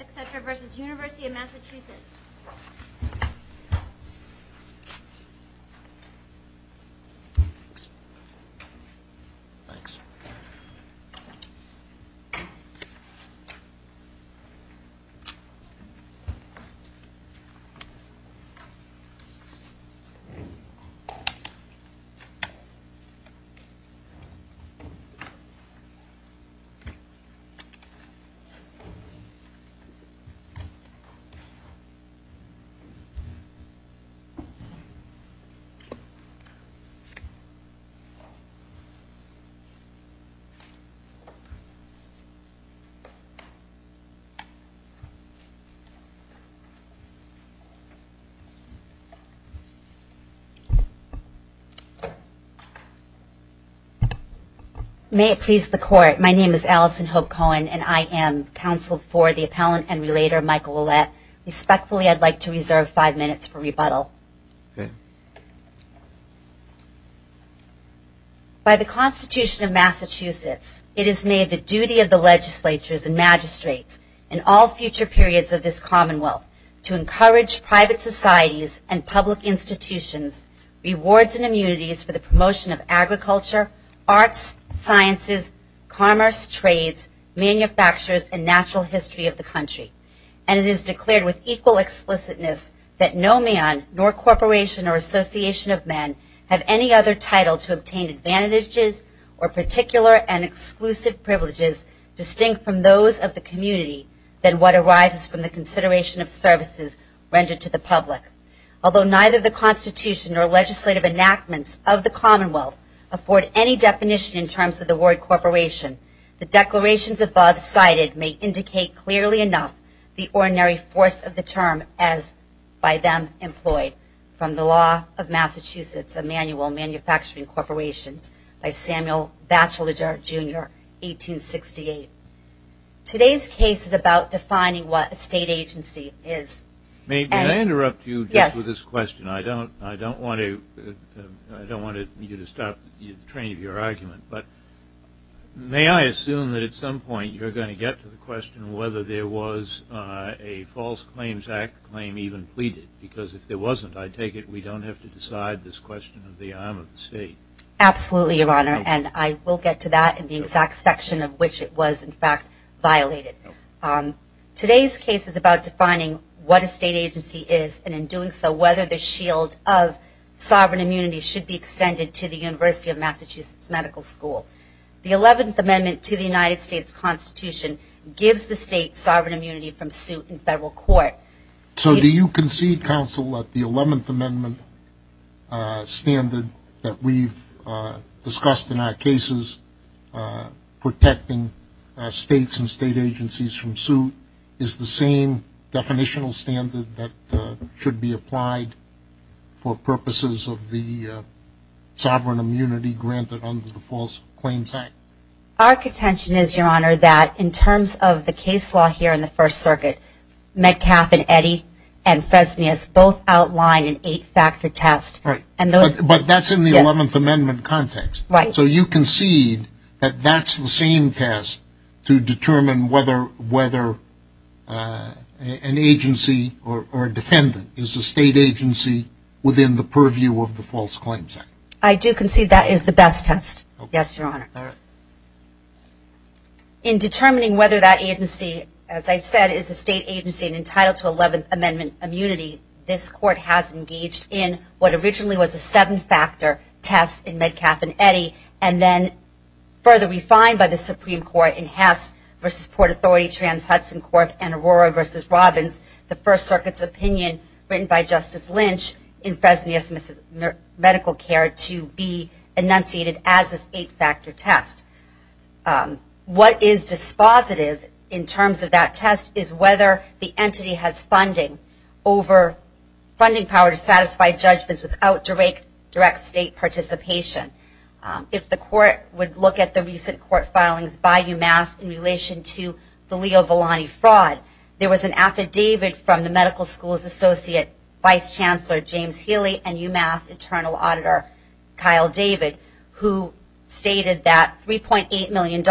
et cetera versus University of Massachusetts May it please the court, my name is Allison Hope Cohen and I am counsel for the appellant and relator Michael Ouellette. Respectfully I would like to reserve five minutes for rebuttal. By the Constitution of Massachusetts it is made the duty of the legislatures and magistrates in all future periods of this commonwealth to encourage private societies and public institutions, rewards and immunities for the promotion of agriculture, arts, sciences, commerce, trades, manufacturers and natural history of the country. And it is declared with equal explicitness that no man nor corporation or association of men have any other title to obtain advantages or particular and exclusive privileges distinct from those of the community than what arises from the consideration of services rendered to the public. Although neither the Constitution nor legislative enactments of the commonwealth afford any definition in terms of the word corporation, the declarations above cited may indicate clearly enough the ordinary force of the term as by them employed from the law of Massachusetts of manual manufacturing corporations by Samuel Batchelder Jr. 1868. Today's case is about defining what a state agency is. May I interrupt you with this question? I don't want you to stop the train of your argument. But may I assume that at some point you're going to get to the question whether there was a false claims act claim even pleaded? Because if there wasn't, I take it we don't have to decide this question of the arm of the state. Absolutely, Your Honor. And I will get to that in the exact section of which it was in fact violated. Today's case is about defining what a state agency is and in doing so whether the shield of sovereign immunity should be extended to the University of Massachusetts Medical School. The 11th Amendment to the United States Constitution gives the state sovereign immunity from suit in federal court. So do you concede counsel that the 11th Amendment standard that we've discussed in our cases protecting states and state agencies from suit is the same definitional standard that should be applied for purposes of the sovereign immunity granted under the false claims act? Our contention is, Your Honor, that in terms of the case law here in the First Circuit, Metcalfe and Eddy and Fresnias both outline an eight-factor test. But that's in the 11th Amendment context. So you concede that that's the same test to determine whether an agency or a defendant is a state agency within the purview of the false claims act? I do concede that is the best test, yes, Your Honor. In determining whether that agency, as I've said, is a state agency entitled to 11th Amendment immunity, this court has engaged in what originally was a seven-factor test in Metcalfe and Eddy, and then further refined by the Supreme Court in Hess v. Port Authority, Trans-Hudson Court, and Aurora v. Robbins, the First Circuit's opinion written by Justice Lynch in Fresnias Medical Care to be enunciated as this eight-factor test. What is dispositive in terms of that test is whether the entity has funding over funding power to satisfy judgments without direct state participation. If the court would look at the recent court filings by UMass in relation to the Leo Volani fraud, there was an affidavit from the medical school's associate vice chancellor, James Healy, and UMass internal auditor, Kyle David, who stated that $3.8 million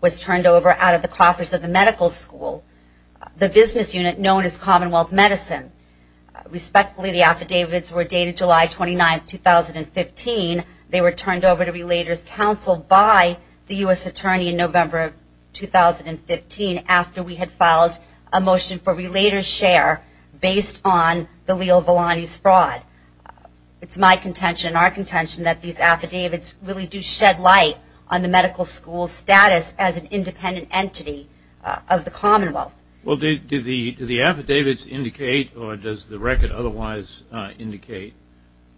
was turned over out of the coffers of the medical school, the business unit known as Commonwealth Medicine. Respectfully, the affidavits were dated July 29, 2015. They were turned over to Relators Council by the U.S. Attorney in November 2015 after we had filed a motion for relator's share based on the Leo Volani's fraud. It's my contention and our contention that these affidavits really do shed light on the medical school's status as an independent entity of the Commonwealth. Well, do the affidavits indicate, or does the record otherwise indicate,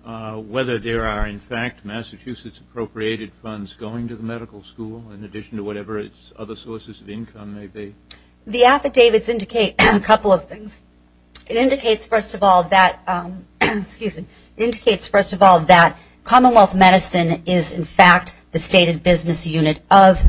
whether there are in fact Massachusetts appropriated funds going to the medical school in addition to whatever its other sources of income may be? The affidavits indicate a couple of things. It indicates, first of all, that Commonwealth Medicine is in fact the stated business unit of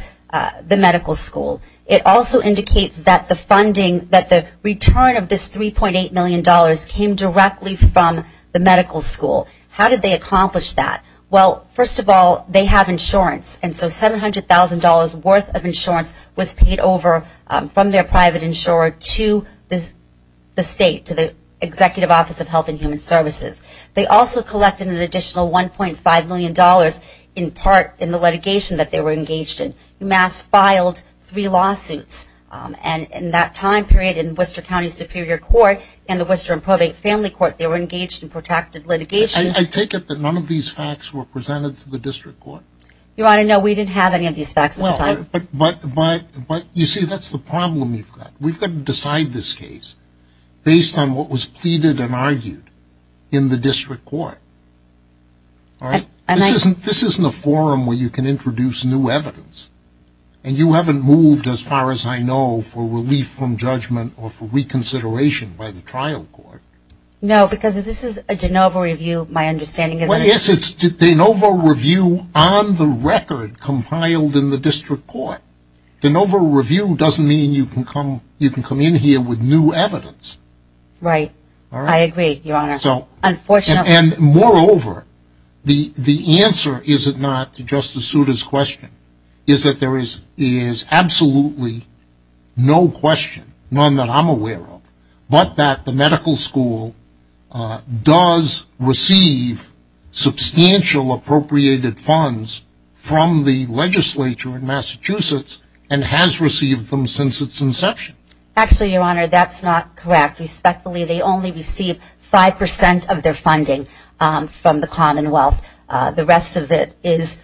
the medical school. It also indicates that the return of this $3.8 million came directly from the medical school. How did they accomplish that? Well, first of all, they have insurance, and so $700,000 worth of insurance was paid over from their private insurer to the state, to the Executive Office of Health and Human Services. They also collected an additional $1.5 million in part in the litigation that they were engaged in. UMass filed three lawsuits, and in that time period in Worcester County Superior Court and the Worcester and Probate Family Court, they were engaged in protracted litigation. I take it that none of these facts were presented to the district court? Your Honor, no, we didn't have any of these facts at the time. But, you see, that's the problem you've got. We've got to decide this case based on what was pleaded and argued in the district court. This isn't a forum where you can introduce new evidence, and you haven't moved, as far as I know, for relief from judgment or for reconsideration by the trial court. No, because this is a de novo review, my understanding is that... Well, yes, it's de novo review on the record compiled in the district court. De novo review doesn't mean you can come in here with new evidence. Right. I agree, Your Honor. Unfortunately... And, moreover, the answer, is it not, to Justice Souter's question, is that there is absolutely no question, none that I'm aware of, but that the medical school does receive information substantial appropriated funds from the legislature in Massachusetts, and has received them since its inception. Actually, Your Honor, that's not correct. Respectfully, they only receive 5% of their funding from the Commonwealth. The rest of it is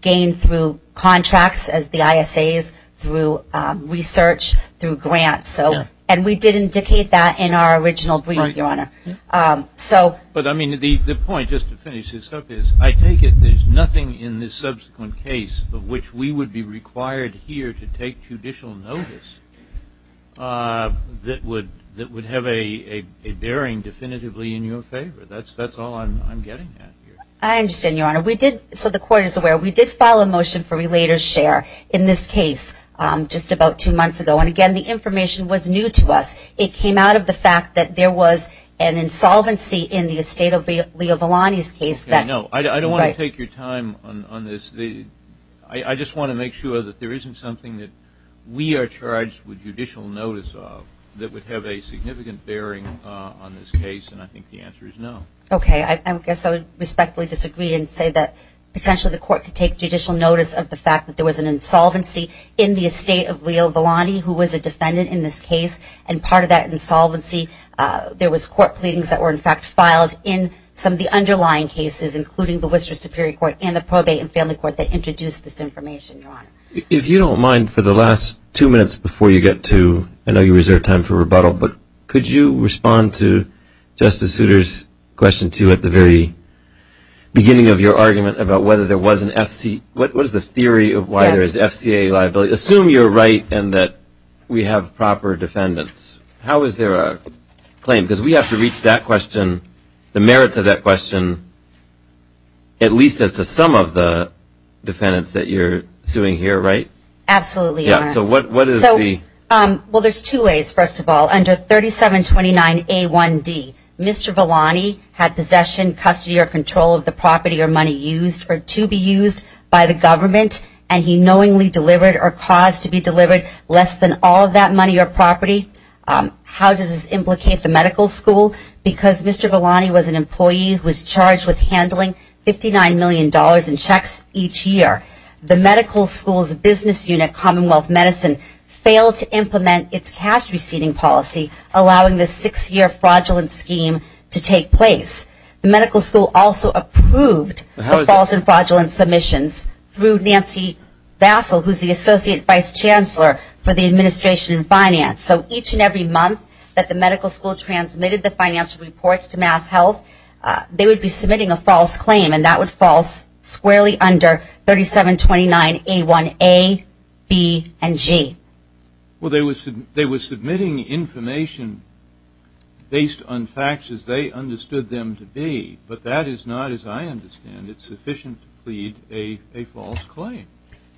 gained through contracts, as the ISAs, through research, through grants. And we did not receive any of that. But, I mean, the point, just to finish this up, is I take it there's nothing in this subsequent case of which we would be required here to take judicial notice that would have a bearing definitively in your favor. That's all I'm getting at here. I understand, Your Honor. We did, so the court is aware, we did file a motion for relater's share in this case just about two months ago. And, again, the information was new to us. It came out of the fact that there was an insolvency in the estate of Leo Volani's case. I don't want to take your time on this. I just want to make sure that there isn't something that we are charged with judicial notice of that would have a significant bearing on this case. And I think the answer is no. Okay. I guess I would respectfully disagree and say that, potentially, the court could take judicial notice of the fact that there was an insolvency in the estate of Leo Volani, who was a defendant in this case. And part of that insolvency, there was court pleadings that were, in fact, filed in some of the underlying cases, including the Worcester Superior Court and the Probate and Family Court that introduced this information, Your Honor. If you don't mind, for the last two minutes before you get to, I know you reserve time for rebuttal, but could you respond to Justice Souter's question, too, at the very beginning of your argument about whether there was an FCA, what is the theory of why there is FCA liability? Assume you're right and that we have proper defendants. How is there a claim? Because we have to reach that question, the merits of that question, at least as to some of the defendants that you're suing here, right? Absolutely, Your Honor. Yeah. So what is the... So, well, there's two ways, first of all. Under 3729A1D, Mr. Volani had possession, custody, or control of the property or money used or to be used by the government, and he knowingly delivered or caused to be delivered less than all of that money or property. How does this implicate the medical school? Because Mr. Volani was an employee who was charged with handling $59 million in checks each year. The medical school's business unit, Commonwealth Medicine, failed to implement its cash-receiving policy, allowing this six-year fraudulent scheme to take place. The medical school also approved the false and fraudulent submissions through Nancy Vassell, who's the Associate Vice Chancellor for the Administration of Finance. So each and every month that the medical school transmitted the financial reports to MassHealth, they would be submitting a false claim, and that would fall squarely under 3729A1A, B, and G. Well, they were submitting information based on facts as they understood them to be, but that is not, as I understand it, sufficient to plead a false claim.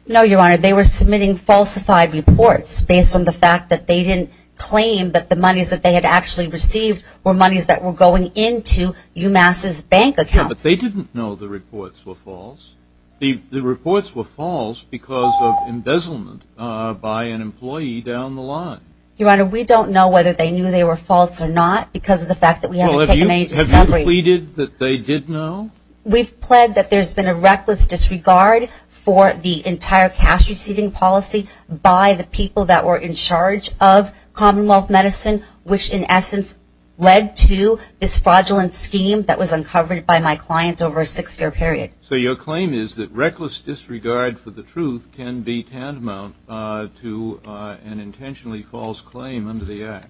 No, Your Honor, they were submitting falsified reports based on the fact that they didn't claim that the monies that they had actually received were monies that were going into UMass's bank account. Yeah, but they didn't know the reports were false. The reports were false because of embezzlement by an employee down the line. Your Honor, we don't know whether they knew they were false or not because of the fact that we haven't taken any discovery. But you have pleaded that they did know? We've pled that there's been a reckless disregard for the entire cash-receiving policy by the people that were in charge of Commonwealth Medicine, which in essence led to this fraudulent scheme that was uncovered by my client over a six-year period. So your claim is that reckless disregard for the truth can be tantamount to an intentionally false claim under the Act.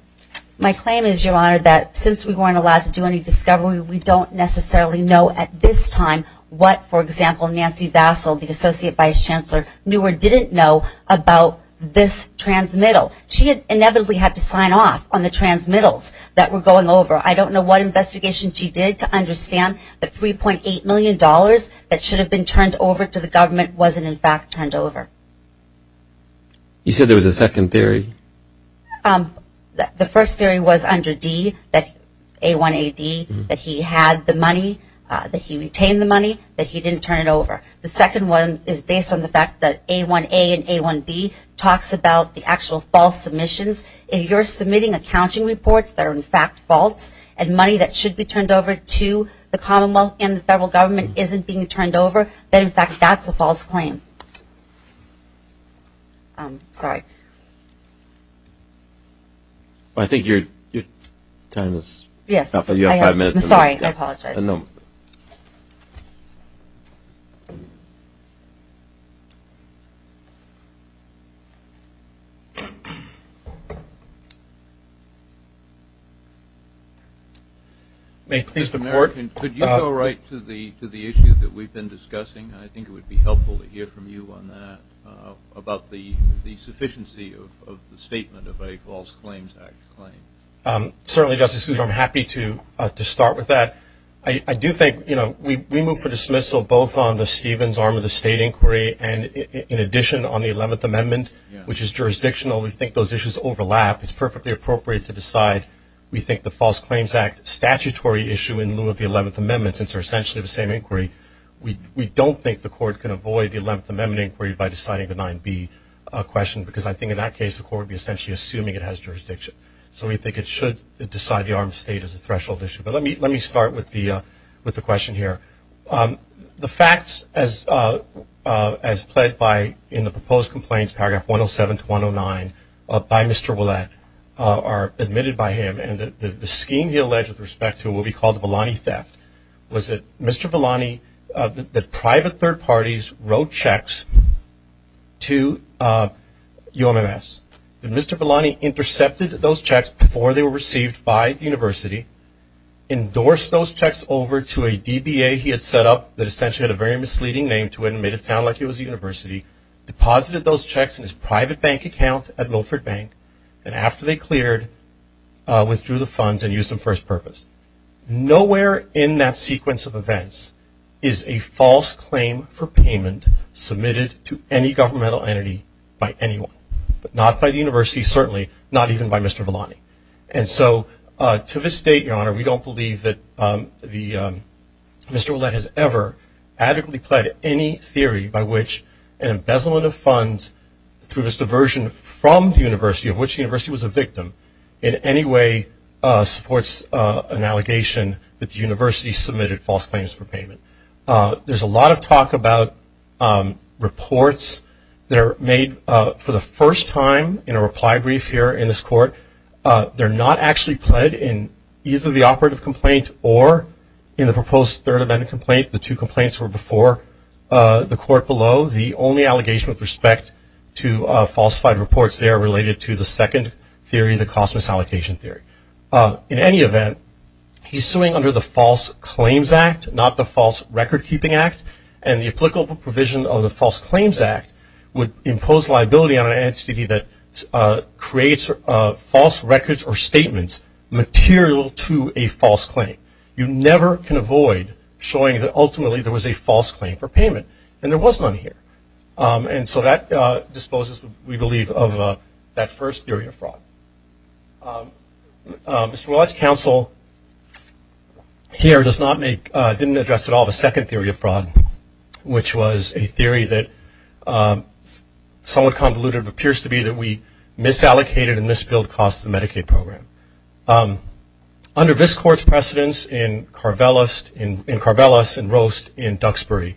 My claim is, Your Honor, that since we weren't allowed to do any discovery, we don't necessarily know at this time what, for example, Nancy Bassel, the Associate Vice Chancellor, knew or didn't know about this transmittal. She had inevitably had to sign off on the transmittals that were going over. I don't know what investigation she did to understand the $3.8 million that should have been turned over to the government wasn't in fact turned over. You said there was a second theory? The first theory was under D, that A-1-A-D, that he had the money, that he retained the money, that he didn't turn it over. The second one is based on the fact that A-1-A and A-1-B talks about the actual false submissions. If you're submitting accounting reports that are in fact false, and money that should be turned over to the Commonwealth and the federal government isn't being turned over, then in fact that's a false claim. I think your time is up. You have five minutes to make a note. Mr. Mayor, could you go right to the issue that we've been discussing? I think it would be helpful to hear from you on that, about the sufficiency of the statement of a False Claims Act claim. Certainly Justice Sousa, I'm happy to start with that. I do think we move for dismissal both on the Stevens arm of the State Inquiry and in addition on the Eleventh Amendment, which is jurisdictional. We think those issues overlap. It's perfectly appropriate to decide. We think the False Claims Act statutory issue in lieu of the Eleventh Amendment, since they're I don't think the Court can avoid the Eleventh Amendment inquiry by deciding the 9-B question, because I think in that case the Court would be essentially assuming it has jurisdiction. So we think it should decide the arm of the State as a threshold issue. But let me start with the question here. The facts as pled by in the proposed complaints, paragraph 107 to 109, by Mr. Ouellette are admitted by him, and the scheme he alleged with respect to what we call the Vellani Theft, was that Mr. Vellani, that private third parties wrote checks to UMMS. And Mr. Vellani intercepted those checks before they were received by the University, endorsed those checks over to a DBA he had set up that essentially had a very misleading name to it and made it sound like it was the University, deposited those checks in his private bank account at Milford Bank, and after they cleared, withdrew the funds and used them for his purpose. Nowhere in that sequence of events is a false claim for payment submitted to any governmental entity by anyone. But not by the University, certainly, not even by Mr. Vellani. And so to this date, Your Honor, we don't believe that Mr. Ouellette has ever adequately pled any theory by which an embezzlement of funds through his diversion from the University, of which the University was a victim, in any way supports an allegation that the University submitted false claims for payment. There's a lot of talk about reports that are made for the first time in a reply brief here in this Court. They're not actually pled in either the operative complaint or in the proposed third amendment complaint. The two complaints were before the Court below. The only allegation with respect to falsified reports there related to the second theory, the cost misallocation theory. In any event, he's suing under the False Claims Act, not the False Record Keeping Act. And the applicable provision of the False Claims Act would impose liability on an entity that creates false records or statements material to a false claim. You never can avoid showing that ultimately there was a false claim for payment and there was none here. And so that disposes, we believe, of that first theory of fraud. Mr. Ouellette's counsel here does not make, didn't address at all the second theory of fraud, which was a theory that somewhat convoluted appears to be that we misallocated and misbilled costs of the Medicaid program. Under this Court's precedence in Carvelis and Roast in Duxbury,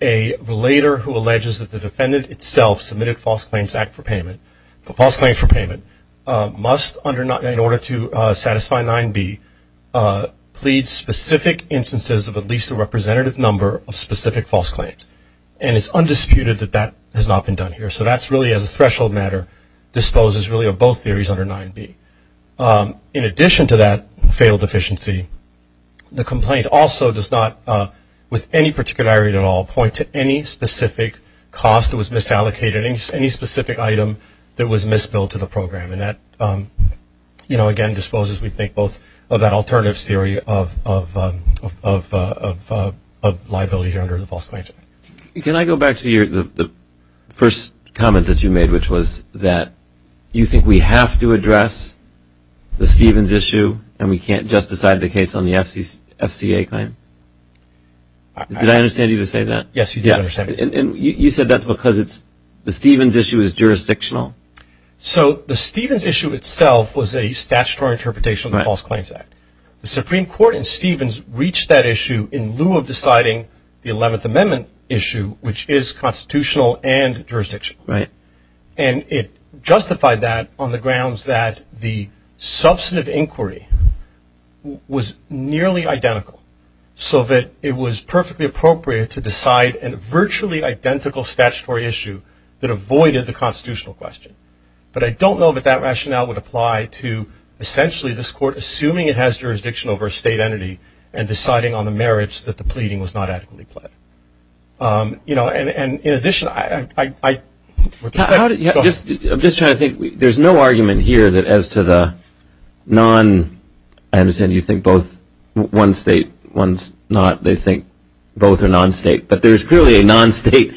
a relator who alleges that the defendant itself submitted a False Claims Act for payment, a false claim for payment, must, in order to satisfy 9b, plead specific instances of at least a representative number of specific false claims. And it's undisputed that that has not been done here. So that's really, as a threshold matter, disposes really of both theories under 9b. In addition to that failed deficiency, the complaint also does not, with any particularity at all, point to any specific cost that was misallocated, any specific item that was misbilled to the program. And that, you know, again disposes, we think, both of that alternative theory of liability here under the False Claims Act. Can I go back to the first comment that you made, which was that you think we have to address the Stevens issue, and we can't just decide the case on the FCA claim? Did I understand you to say that? Yes, you did understand. You said that's because the Stevens issue is jurisdictional? So the Stevens issue itself was a statutory interpretation of the False Claims Act. The issue which is constitutional and jurisdictional. And it justified that on the grounds that the substantive inquiry was nearly identical so that it was perfectly appropriate to decide a virtually identical statutory issue that avoided the constitutional question. But I don't know that that rationale would apply to, essentially, this court assuming it has jurisdiction over a state entity and deciding on the merits that the pleading was not adequately pledged. You know, and in addition, I would just like to go back to the other comment that you made. I'm just trying to think. There's no argument here that as to the non, I understand you think both one state, one's not, they think both are non-state. But there's clearly a non-state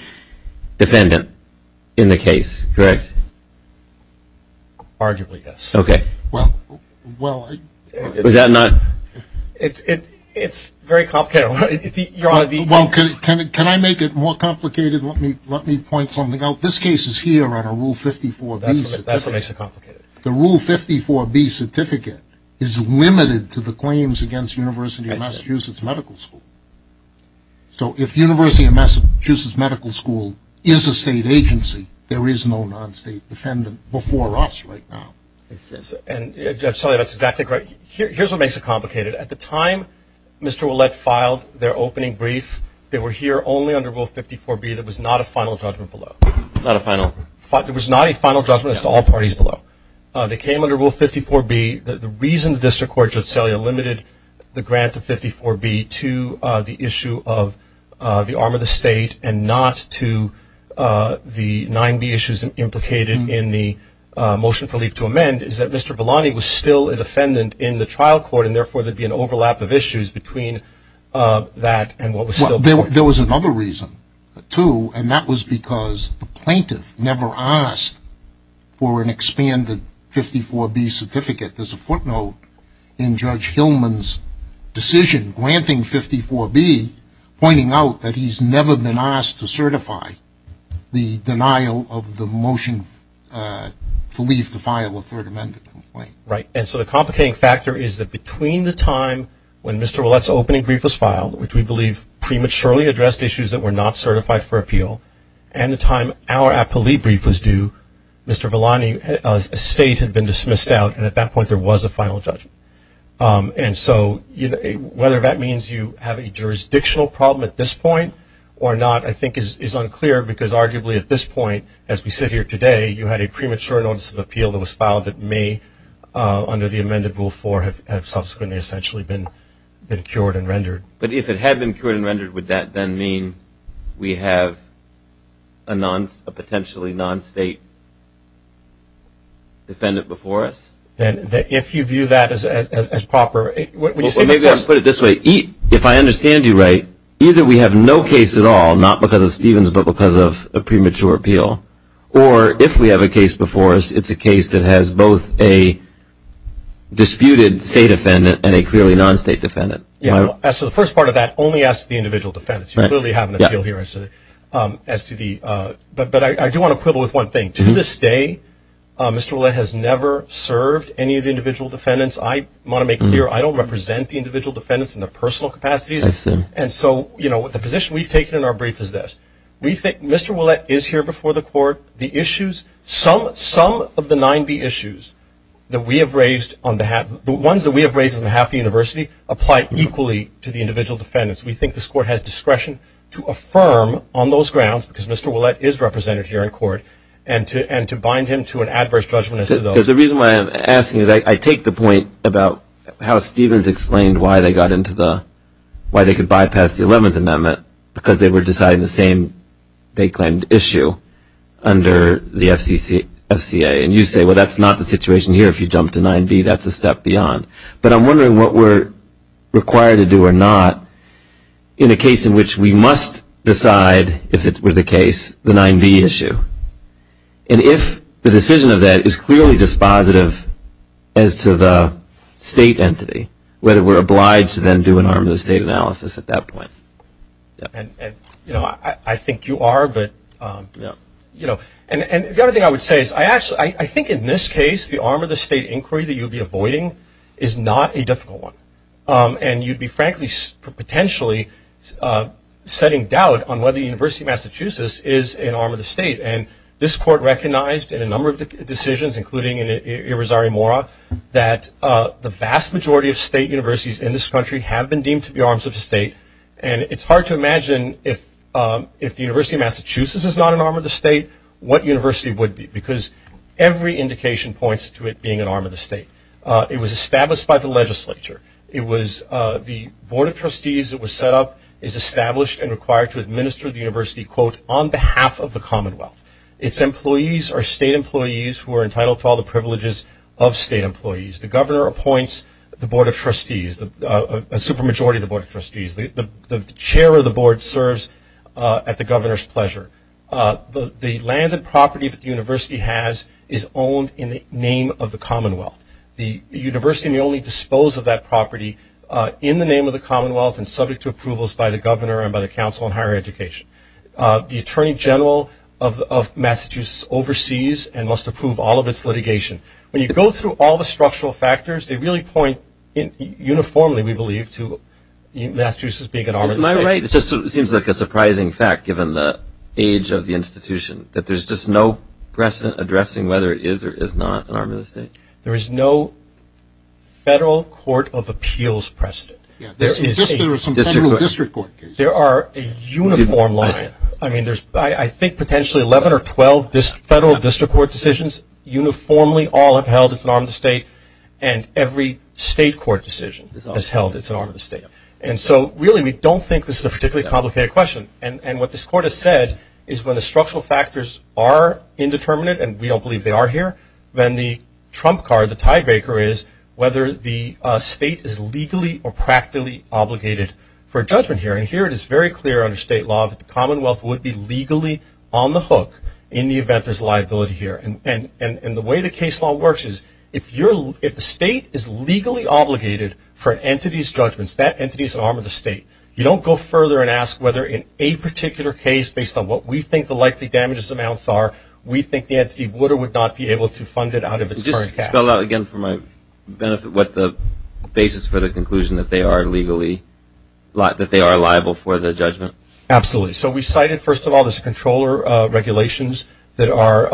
defendant in the case, correct? Arguably, yes. Okay. Well, I Was that not? It's very complicated. Well, can I make it more complicated? Let me point something out. This case is here on a Rule 54B certificate. That's what makes it complicated. The Rule 54B certificate is limited to the claims against University of Massachusetts Medical School. So if University of Massachusetts Medical School is a state agency, there is no non-state defendant before us right now. And Judge Sellea, that's exactly correct. Here's what makes it complicated. At the time Mr. Ouellette filed their opening brief, they were here only under Rule 54B. There was not a final judgment below. Not a final. There was not a final judgment as to all parties below. They came under Rule 54B. The reason the District Court, Judge Sellea, limited the grant to 54B to the issue of the arm of the state and not to the 9B issues implicated in the motion for leave to amend is that Mr. Villani was still a defendant in the trial court, and therefore there would be an overlap of issues between that and what was still there. Well, there was another reason, too, and that was because the plaintiff never asked for an expanded 54B certificate. There's a footnote in Judge Hillman's decision granting 54B pointing out that he's never been asked to certify the denial of the motion for leave to file a third amendment complaint. Right. And so the complicating factor is that between the time when Mr. Ouellette's opening brief was filed, which we believe prematurely addressed issues that were not certified for appeal, and the time our appellee brief was due, Mr. Villani's estate had been dismissed out and at that point there was a final judgment. And so whether that means you have a jurisdictional problem at this point or not I think is unclear because arguably at this point, as we sit here today, you had a premature notice of appeal that was filed that may, under the amended Rule 4, have subsequently essentially been cured and rendered. But if it had been cured and rendered, would that then mean we have a potentially non-state defendant before us? And if you view that as proper, would you say before us? Well, maybe I'll put it this way. If I understand you right, either we have no case at all, not because of Stevens, but because of a premature appeal, or if we have a case before us, it's a case that has both a disputed state defendant and a clearly non-state defendant. Yeah. So the first part of that only asks the individual defense. You clearly have an appeal here as to the... But I do want to quibble with one thing. To this day, Mr. Ouellette has never served any of the individual defendants. I want to make clear, I don't represent the individual defendants in their personal capacities. And so the position we've taken in our brief is this. We think Mr. Ouellette is here before the court. Some of the 9B issues that we have raised on behalf... The ones that we have raised on behalf of the university apply equally to the individual defendants. We think this court has discretion to affirm on those grounds because Mr. Ouellette is represented here in court, and to bind him to an adverse judgment Because the reason why I'm asking is I take the point about how Stevens explained why they got into the... Why they could bypass the 11th Amendment because they were deciding the same, they claimed, issue under the FCA. And you say, well, that's not the situation here if you jump to 9B. That's a step beyond. But I'm wondering what we're required to do or not in a case in which we must decide, if it were the case, the 9B issue. And if the decision of that is clearly dispositive as to the state entity, whether we're obliged to then do an arm of the state analysis at that point. I think you are, but... And the other thing I would say is I actually... I think in this case the arm of the state inquiry that you'll be avoiding is not a difficult one. And you'd be frankly potentially setting doubt on whether the University of Massachusetts is an arm of the state. And this court recognized in a number of decisions, including in Irizarry Mora, that the vast majority of state universities in this country have been deemed to be arms of the state. And it's hard to imagine if the University of Massachusetts is not an arm of the state, what university would be. Because every indication points to it being an arm of the state. It was established by the legislature. It was... The Board of Trustees that was set up is established and required to administer the university, quote, on behalf of the commonwealth. Its employees are state employees who are entitled to all the privileges of state employees. The governor appoints the Board of Trustees, a supermajority of the Board of Trustees. The chair of the board serves at the governor's pleasure. The land and property that the university has is owned in the name of the commonwealth. The university may only dispose of that property in the name of the commonwealth and subject to approvals by the governor and by the council on higher education. The attorney general of Massachusetts oversees and must approve all of its litigation. When you go through all the structural factors, they really point uniformly, we believe, to Massachusetts being an arm of the state. Am I right? It just seems like a surprising fact, given the age of the institution, that there's just no precedent addressing whether it is or is not an arm of the state. There is no federal court of appeals precedent. There are a uniform line. I mean, there's, I think, potentially 11 or 12 federal district court decisions. Uniformly, all have held it's an arm of the state. And every state court decision has held it's an arm of the state. And so, really, we don't think this is a particularly complicated question. And what this court has said is when the structural factors are indeterminate, and we don't believe they are here, then the trump card, the tie for judgment here, and here it is very clear under state law that the commonwealth would be legally on the hook in the event there's liability here. And the way the case law works is if the state is legally obligated for an entity's judgments, that entity's an arm of the state. You don't go further and ask whether in a particular case, based on what we think the likely damages amounts are, we think the entity would or would not be able to fund it out of its current cash. Spell out again for my benefit what the basis for the conclusion that they are legally, that they are liable for the judgment. Absolutely. So we cited, first of all, this controller regulations that are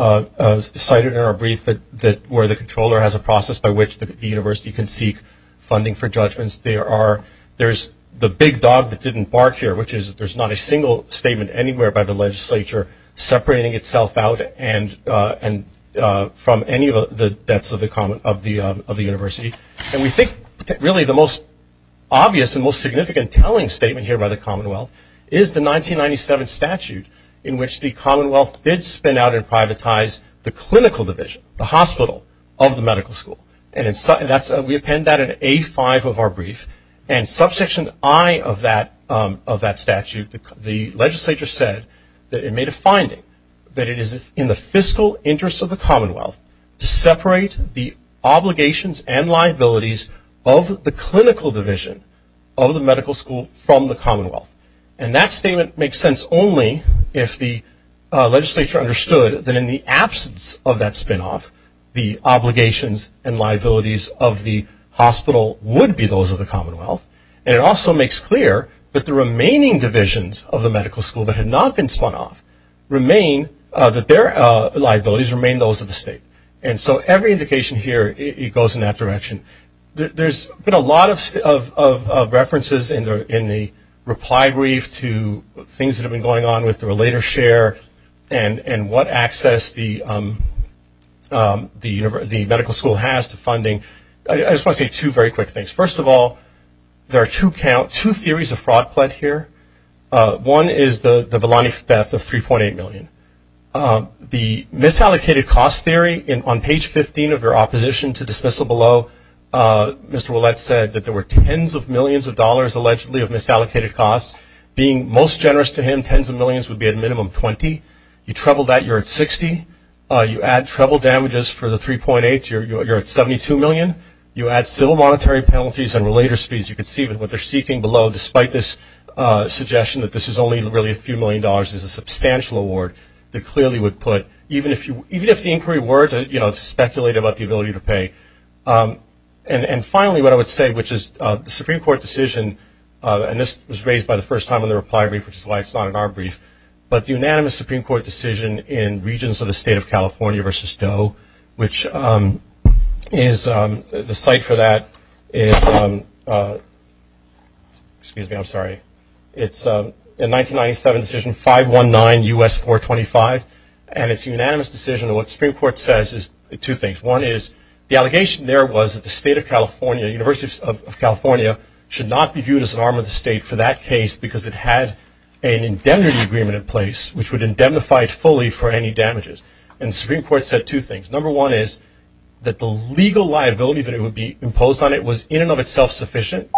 cited in our brief where the controller has a process by which the university can seek funding for judgments. There are, there's the big dog that didn't bark here, which is there's not a single statement anywhere by the legislature separating itself out from any of the debts of the university. And we think really the most obvious and most significant telling statement here by the commonwealth is the 1997 statute in which the commonwealth did spin out and privatize the clinical division, the hospital of the medical school. And we append that in A5 of our brief. And subsection I of that statute, the legislature said that it made a finding that it is in the fiscal interest of the commonwealth to separate the obligations and liabilities of the clinical division of the medical school from the commonwealth. And that statement makes sense only if the legislature understood that in the absence of that spin off, the obligations and liabilities of the hospital would be those of the commonwealth. And it also makes clear that the remaining divisions of the medical school that had not been spun off remain, that their liabilities remain those of the state. And so every indication here, it goes in that direction. There's been a lot of references in the reply brief to things that have been going on with the relator share and what access the medical school has to funding. I just want to say two very quick things. First of all, there are two theories of fraud plot here. One is the Belani theft of 3.8 million. The misallocated cost theory on page 15 of your opposition to dismissal below, Mr. Ouellette said that there were tens of millions of dollars allegedly of misallocated costs. Being most generous to him, tens of millions would be at minimum 20. You treble that, you're at 60. You add treble damages for the 3.8, you're at 72 million. You add civil monetary penalties and relator speeds. You can see what they're seeking below, despite this suggestion that this is only really a few million dollars. It's a substantial award that clearly would put, even if the inquiry were to speculate about the ability to pay. And finally, what I would say, which is the Supreme Court decision, and this was raised by the first time in the reply brief, which is why it's not in our brief, but the unanimous Supreme Court decision in regions of the state of California versus Doe, which is, the site for that is, excuse me, I'm sorry. It's a 1997 decision, 519 U.S. 425, and it's a unanimous decision. And what the Supreme Court says is two things. One is, the allegation there was that the state of California, Universities of California, should not be viewed as an arm of the state for that case because it had an indemnity agreement in place, which would indemnify it fully for any damages. And the Supreme Court said two things. Number one is, that the legal liability that it would be imposed on it was in and of itself sufficient.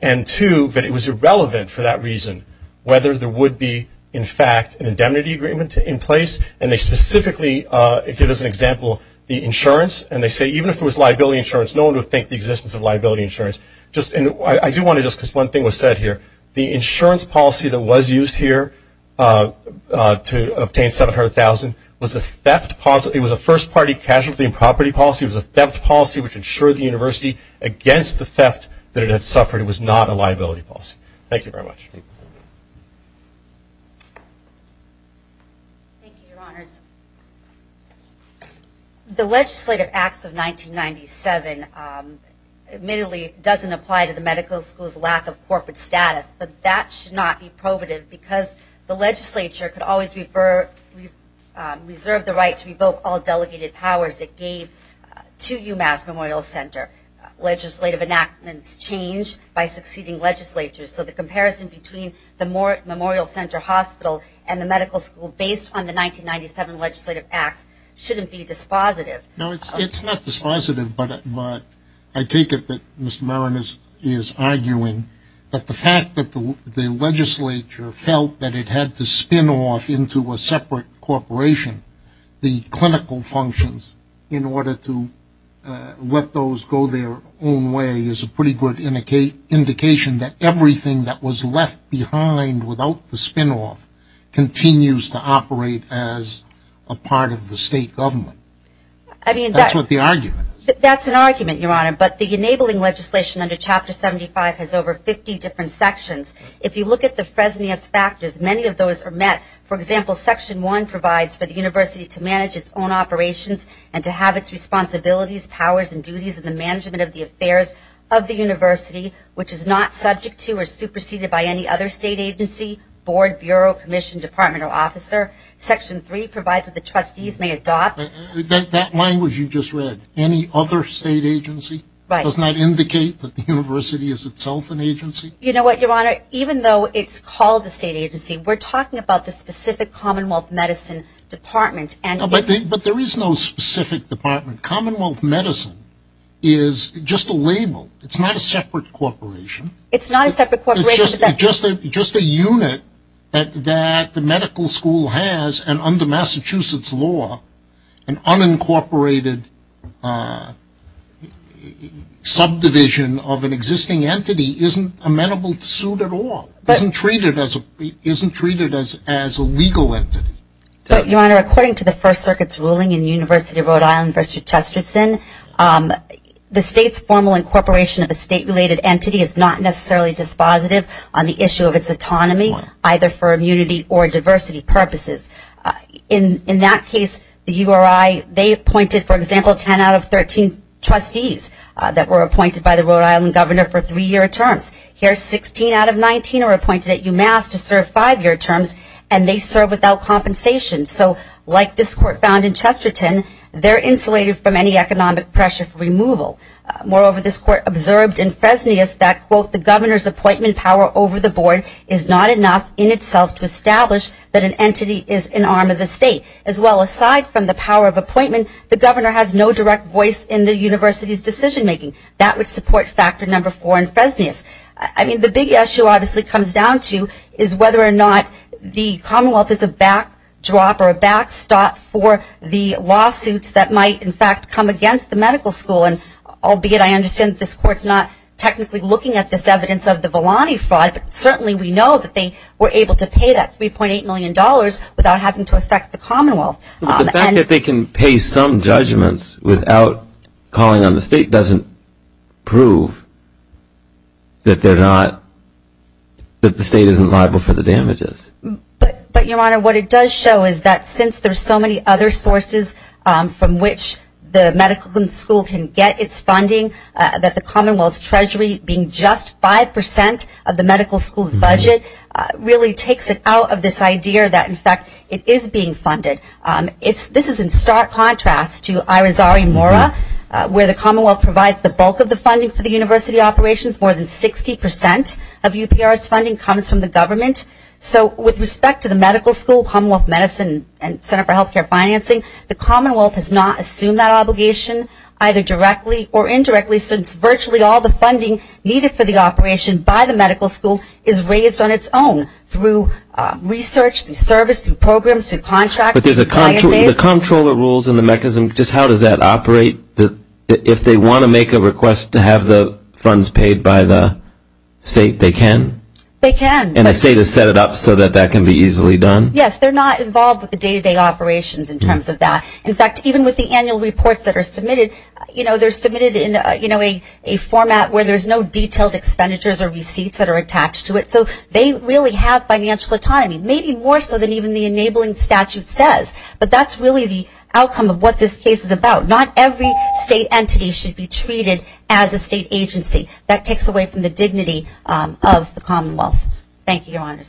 And two, that it was irrelevant for that reason, whether there would be, in fact, an indemnity agreement in place. And they specifically give us an example, the insurance. And they say, even if there was liability insurance, no one would think the existence of liability insurance. I do want to just, because one thing was said here, the insurance policy that was used here to obtain $700,000 was a first party casualty and property policy. It was a theft policy which insured the university against the theft that it had suffered. It was not a liability policy. Thank you very much. Thank you, Your Honors. The Legislative Acts of 1997 admittedly doesn't apply to the medical school's lack of corporate status, but that should not be probative because the legislature could always reserve the right to revoke all delegated powers it gave to UMass Memorial Center. Legislative enactments change by succeeding legislatures, so the comparison between the Memorial Center Hospital and the medical school, based on the 1997 Legislative Acts, shouldn't be dispositive. No, it's not dispositive, but I take it that Mr. Marin is arguing that the fact that the legislature felt that it had to spin off into a separate corporation the clinical functions in order to let those go their own way is a pretty good indication that everything that was left behind without the spin off continues to operate as a part of the state government. That's what the argument is. That's an argument, Your Honor, but the enabling legislation under Chapter 75 has over 50 different sections. If you look at the Fresnias factors, many of those are met. For example, Section 1 provides for the university to manage its own operations and to have its responsibilities, powers and duties in the management of the affairs of the university, which is not subject to or superseded by any other state agency, board, bureau, commission, department or officer. Section 3 provides that the trustees may adopt... That language you just read, any other state agency, does not indicate that the university is itself an agency? You know what, Your Honor, even though it's called a state agency, we're talking about the specific commonwealth medicine department. But there is no specific department. Commonwealth medicine is just a label. It's not a separate corporation. It's not a separate corporation. Just a unit that the medical school has and under Massachusetts law, an unincorporated subdivision of an existing entity isn't amenable to suit at all, isn't treated as a legal entity. Your Honor, according to the First Circuit's ruling in University of Rhode Island v. Chesterson, the state's formal incorporation of a state-related entity is not necessarily dispositive on the issue of its autonomy, either for immunity or diversity purposes. In that case, the URI, they appointed, for example, 10 out of 13 trustees that were appointed by the Rhode Island governor for three-year terms. Here, 16 out of 19 are appointed at UMass to serve five-year terms, and they serve without compensation. So like this court found in Chesterton, they're insulated from any economic pressure for removal. Moreover, this court observed in Fresnius that, quote, the governor's appointment power over the board is not enough in itself to establish that an entity is an arm of the state. If there is an appointment, the governor has no direct voice in the university's decision-making. That would support Factor No. 4 in Fresnius. I mean, the big issue, obviously, comes down to is whether or not the Commonwealth is a backdrop or a backstop for the lawsuits that might, in fact, come against the medical school, and albeit I understand that this court's not technically looking at this evidence of the Volani fraud, but certainly we know that they were able to pay that $3.8 million without having to affect the Commonwealth. But the fact that they can pay some judgments without calling on the state doesn't prove that they're not, that the state isn't liable for the damages. But Your Honor, what it does show is that since there's so many other sources from which the medical school can get its funding, that the Commonwealth's treasury being just 5 percent of the medical school's budget really takes it out of this idea that, in fact, it is being funded. This is in stark contrast to Irazari-Mora, where the Commonwealth provides the bulk of the funding for the university operations. More than 60 percent of UPR's funding comes from the government. So with respect to the medical school, Commonwealth Medicine, and Center for Healthcare Financing, the Commonwealth has not assumed that obligation, either directly or indirectly, since virtually all the funding needed for the operation by the medical school is raised on its own through research, through service, through programs, through contracts. But there's a comptroller rules in the mechanism. Just how does that operate, if they want to make a request to have the funds paid by the state, they can? They can. And the state has set it up so that that can be easily done? Yes, they're not involved with the day-to-day operations in terms of that. In fact, even with the annual reports that are submitted, they're submitted in a format where there's no detailed expenditures or receipts that are attached to it. So they really have financial autonomy, maybe more so than even the enabling statute says. But that's really the outcome of what this case is about. Not every state entity should be treated as a state agency. That takes away from the dignity of the Commonwealth. Thank you, Your Honor.